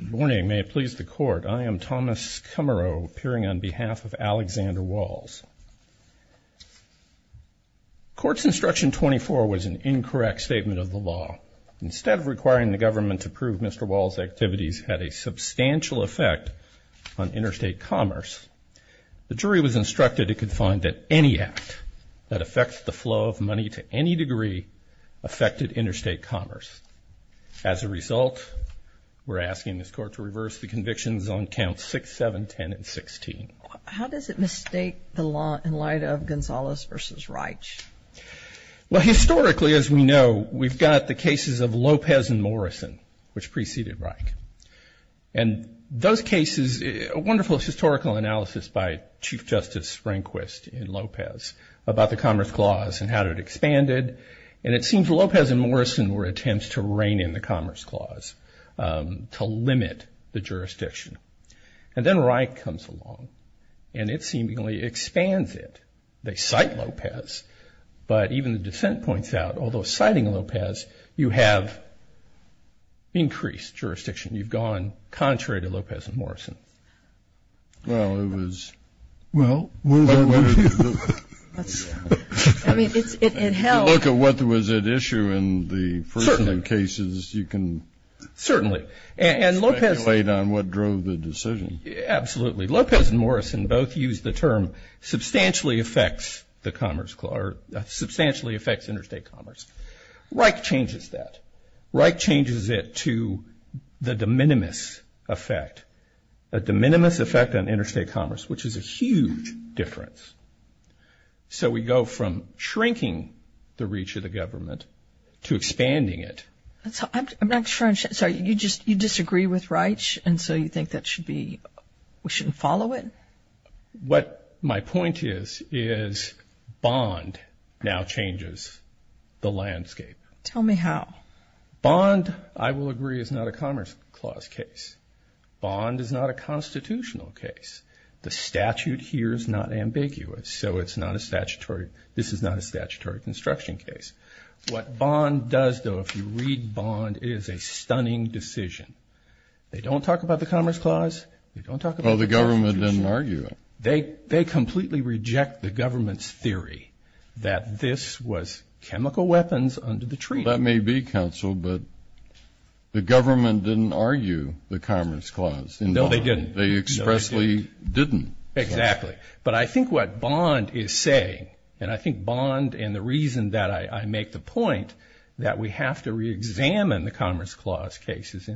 Good morning. May it please the Court, I am Thomas Kummerow, appearing on behalf of Alexander Walls. Court's Instruction 24 was an incorrect statement of the law. Instead of requiring the government to prove Mr. Walls' activities had a substantial effect on interstate commerce, the jury was instructed it could find that any act that affects the flow of money to any degree affected interstate commerce. As a result, we're asking this Court to reverse the convictions on Counts 6, 7, 10, and 16. How does it mistake the law in light of Gonzales v. Reich? Well, historically, as we know, we've got the cases of Lopez and Morrison, which preceded Reich. And those cases, a wonderful historical analysis by Chief Justice Rehnquist in Lopez about the Commerce Clause and how it expanded. And it seems Lopez and Morrison were attempts to rein in the Commerce Clause, to limit the jurisdiction. And then Reich comes along, and it seemingly expands it. They cite Lopez, but even the dissent points out, although citing Lopez, you have increased jurisdiction. You've gone contrary to Lopez and Morrison. Well, it was. Well. I mean, it held. If you look at what was at issue in the first of the cases, you can. Certainly. And Lopez. Speculate on what drove the decision. Absolutely. Lopez and Morrison both used the term substantially affects the Commerce Clause, or substantially affects interstate commerce. Reich changes that. Reich changes it to the de minimis effect, a de minimis effect on interstate commerce, which is a huge difference. So we go from shrinking the reach of the government to expanding it. I'm not sure. Sorry, you disagree with Reich, and so you think that should be, we shouldn't follow it? What my point is, is Bond now changes the landscape. Tell me how. Bond, I will agree, is not a Commerce Clause case. Bond is not a constitutional case. The statute here is not ambiguous, so it's not a statutory, this is not a statutory construction case. What Bond does, though, if you read Bond, it is a stunning decision. They don't talk about the Commerce Clause. They don't talk about the Constitution. Well, the government didn't argue it. They completely reject the government's theory that this was chemical weapons under the tree. That may be, counsel, but the government didn't argue the Commerce Clause. No, they didn't. They expressly didn't. Exactly. But I think what Bond is saying, and I think Bond and the reason that I make the point that we have to reexamine the Commerce Clause cases,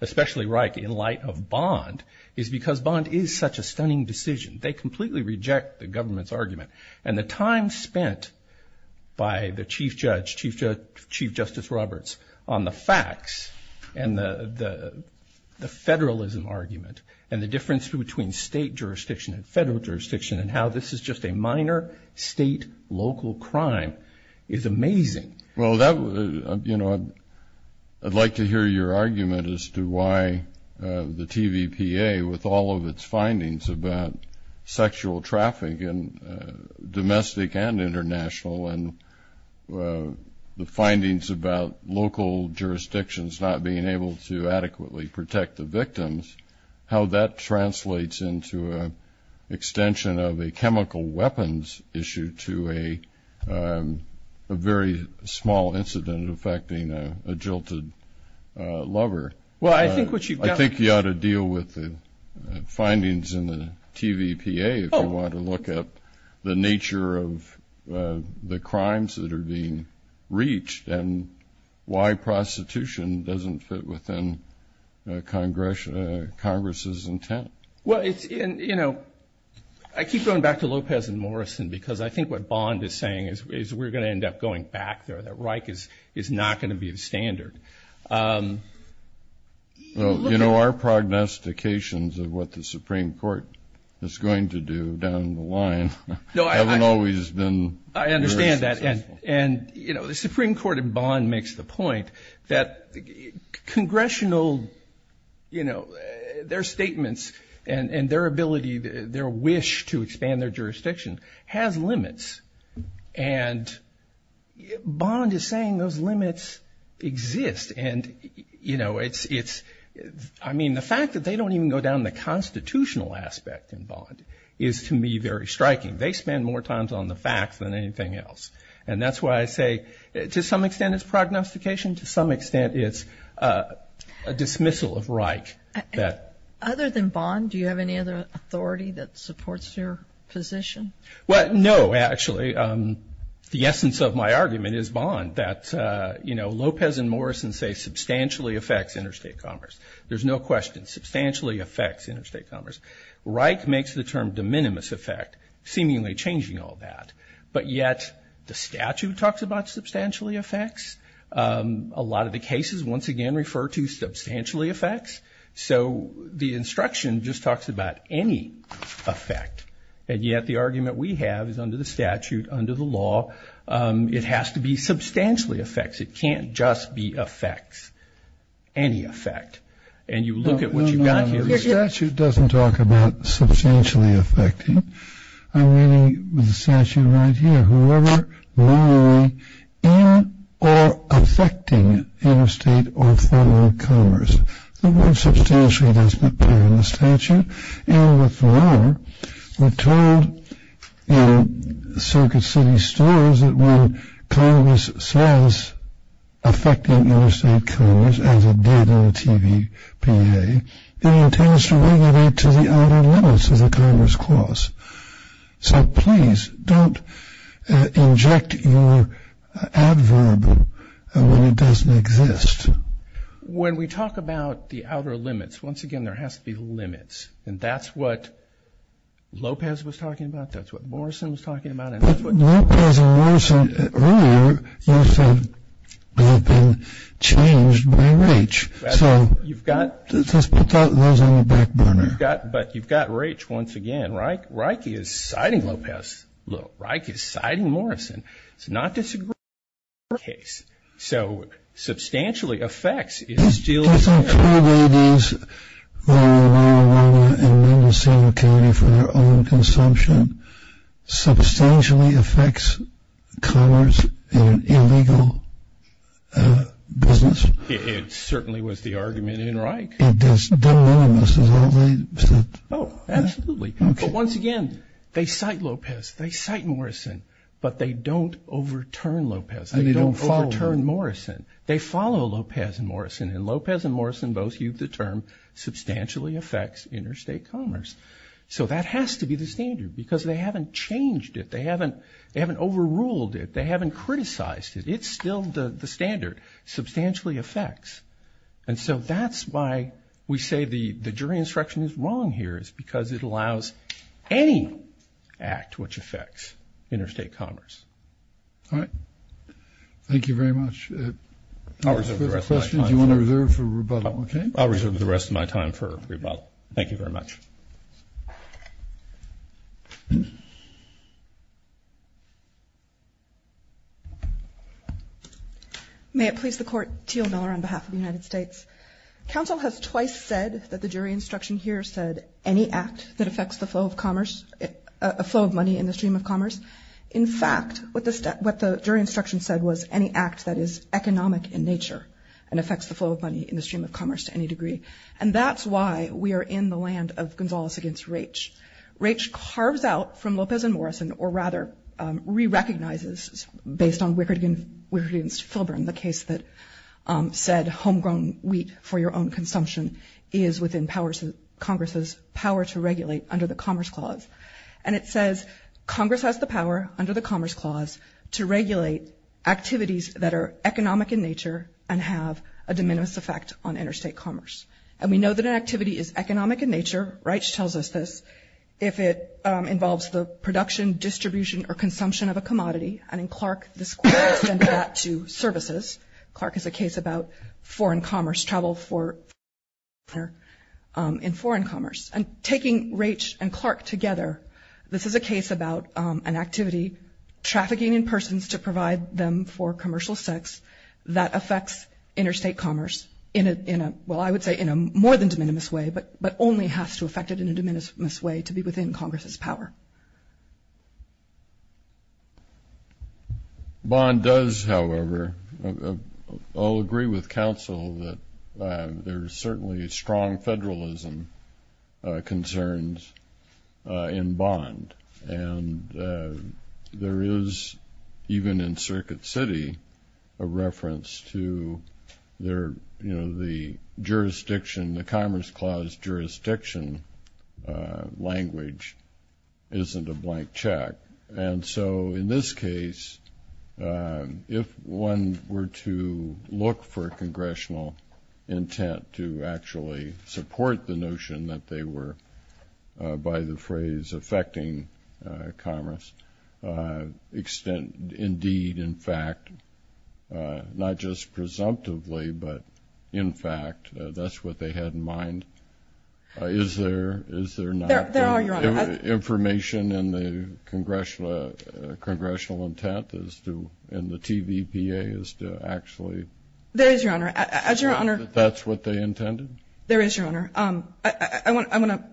especially Reich, in light of Bond, is because Bond is such a stunning decision. They completely reject the government's argument. And the time spent by the Chief Justice Roberts on the facts and the federalism argument and the difference between state jurisdiction and federal jurisdiction and how this is just a minor state-local crime is amazing. Well, I'd like to hear your argument as to why the TVPA, with all of its findings about sexual traffic in domestic and international and the findings about local jurisdictions not being able to adequately protect the victims, how that translates into an extension of a chemical weapons issue to a very small incident affecting a jilted lover. Well, I think what you've got to deal with the findings in the TVPA, if you want to look at the nature of the crimes that are being reached and why prostitution doesn't fit within Congress's intent. Well, you know, I keep going back to Lopez and Morrison, because I think what Bond is saying is we're going to end up going back there, that Reich is not going to be the standard. Well, you know, our prognostications of what the Supreme Court is going to do down the line haven't always been very successful. I understand that. And, you know, the Supreme Court in Bond makes the point that congressional, you know, their statements and their ability, their wish to expand their jurisdiction has limits. And Bond is saying those limits exist. And, you know, it's – I mean, the fact that they don't even go down the constitutional aspect in Bond is, to me, very striking. They spend more time on the facts than anything else. And that's why I say to some extent it's prognostication, to some extent it's a dismissal of Reich. Other than Bond, do you have any other authority that supports your position? Well, no, actually. The essence of my argument is Bond, that, you know, Lopez and Morrison say substantially affects interstate commerce. There's no question. Substantially affects interstate commerce. Reich makes the term de minimis affect, seemingly changing all that. But yet the statute talks about substantially affects. A lot of the cases, once again, refer to substantially affects. So the instruction just talks about any affect. And yet the argument we have is under the statute, under the law, it has to be substantially affects. It can't just be affects, any affect. And you look at what you've got here. The statute doesn't talk about substantially affecting. I'm reading the statute right here. Whoever, morally, in or affecting interstate or foreign commerce. The word substantially doesn't appear in the statute. And what's more, we're told in Circuit City stories that when Congress says affecting interstate commerce, as it did in the TVPA, it entails to regulate to the outer limits of the Congress clause. So please, don't inject your adverb when it doesn't exist. When we talk about the outer limits, once again, there has to be limits. And that's what Lopez was talking about. That's what Morrison was talking about. Just put those on the back burner. But you've got Raich, once again. Raich is citing Lopez. Raich is citing Morrison. It's not disagreeing with your case. So substantially affects is still there. Does it include these, Raya, Raya, Raya, and Mendocino County for their own consumption? Substantially affects commerce in an illegal business? It certainly was the argument in Raich. But they're all the same, aren't they? Oh, absolutely. But once again, they cite Lopez. They cite Morrison. But they don't overturn Lopez. They don't overturn Morrison. They follow Lopez and Morrison. And Lopez and Morrison both use the term substantially affects interstate commerce. So that has to be the standard because they haven't changed it. They haven't overruled it. They haven't criticized it. It's still the standard. Substantially affects. And so that's why we say the jury instruction is wrong here, is because it allows any act which affects interstate commerce. All right. Thank you very much. Do you want to reserve for rebuttal? I'll reserve the rest of my time for rebuttal. Thank you very much. May it please the Court. Teal Miller on behalf of the United States. Counsel has twice said that the jury instruction here said any act that affects the flow of commerce, a flow of money in the stream of commerce. In fact, what the jury instruction said was any act that is economic in nature and affects the flow of money in the stream of commerce to any degree. And that's why we are in the land of Gonzales against Raich. Raich carves out from Lopez and Morrison, or rather re-recognizes based on Wickard against Filburn, the case that said homegrown wheat for your own consumption is within Congress's power to regulate under the Commerce Clause. And it says Congress has the power under the Commerce Clause to regulate activities that are economic in nature and have a de minimis effect on interstate commerce. And we know that an activity is economic in nature, Raich tells us this, if it involves the production, distribution, or consumption of a commodity. And in Clark, this quote extends that to services. Clark has a case about foreign commerce, travel for foreign commerce. And taking Raich and Clark together, this is a case about an activity, trafficking in persons to provide them for commercial sex that affects interstate commerce in a, well, I would say in a more than de minimis way, but only has to affect it in a de minimis way to be within Congress's power. Bond does, however, all agree with counsel that there's certainly strong federalism concerns in Bond. And there is, even in Circuit City, a reference to their, you know, the jurisdiction, the Commerce Clause jurisdiction language isn't a blank check. And so in this case, if one were to look for congressional intent to actually support the notion that they were, by the phrase affecting commerce, extend indeed, in fact, not just presumptively, but in fact, that's what they had in mind. Is there not information in the congressional intent as to, in the TVPA, as to actually? There is, Your Honor. As Your Honor. There is, Your Honor. I want to,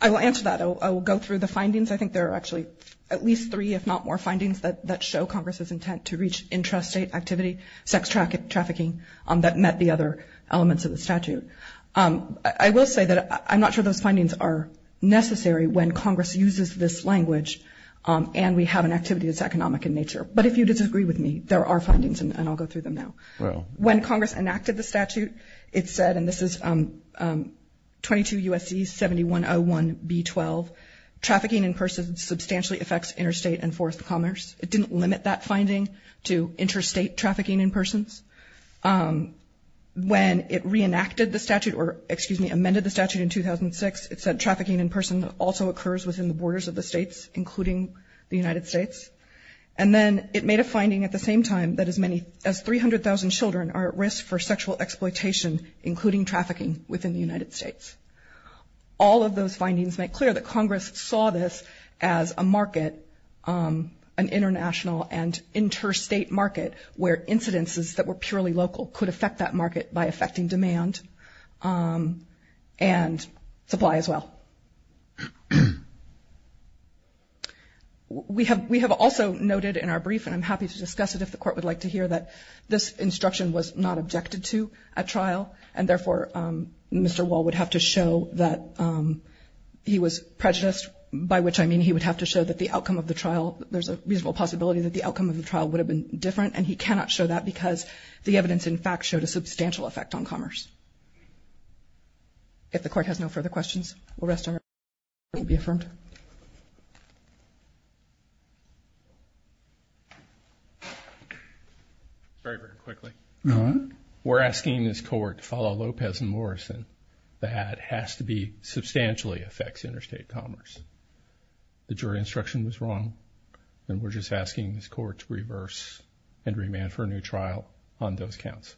I will answer that. I will go through the findings. I think there are actually at least three, if not more, findings that show Congress's intent to reach intrastate activity, sex trafficking that met the other elements of the statute. I will say that I'm not sure those findings are necessary when Congress uses this language and we have an activity that's economic in nature. But if you disagree with me, there are findings, and I'll go through them now. When Congress enacted the statute, it said, and this is 22 U.S.C. 7101B12, trafficking in persons substantially affects interstate and forest commerce. It didn't limit that finding to interstate trafficking in persons. When it reenacted the statute, or, excuse me, amended the statute in 2006, it said trafficking in person also occurs within the borders of the states, including the United States. And then it made a finding at the same time that as many as 300,000 children are at risk for sexual exploitation, including trafficking within the United States. All of those findings make clear that Congress saw this as a market, an international and interstate market where incidences that were purely local could affect that market by affecting demand and supply as well. We have also noted in our brief, and I'm happy to discuss it if the Court would like to hear, that this instruction was not objected to at trial, and therefore Mr. Wall would have to show that he was prejudiced, by which I mean he would have to show that the outcome of the trial, there's a reasonable possibility that the outcome of the trial would have been different, and he cannot show that because the evidence, in fact, showed a substantial effect on commerce. Does Mr. Wall want to be affirmed? Very, very quickly. We're asking this Court to follow Lopez and Morrison. That has to be substantially affects interstate commerce. The jury instruction was wrong, and we're just asking this Court to reverse and remand for a new trial on those counts.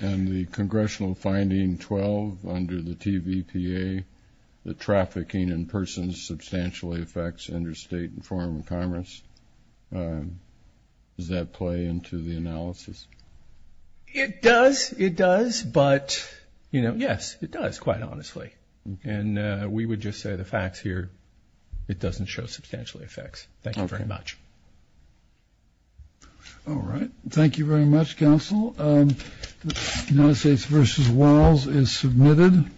And the Congressional finding 12 under the TVPA, the trafficking in persons substantially affects interstate and foreign commerce. Does that play into the analysis? It does, it does, but, you know, yes, it does, quite honestly. And we would just say the facts here, it doesn't show substantial effects. Thank you very much. All right. Thank you very much, Counsel. The United States v. Walls is submitted.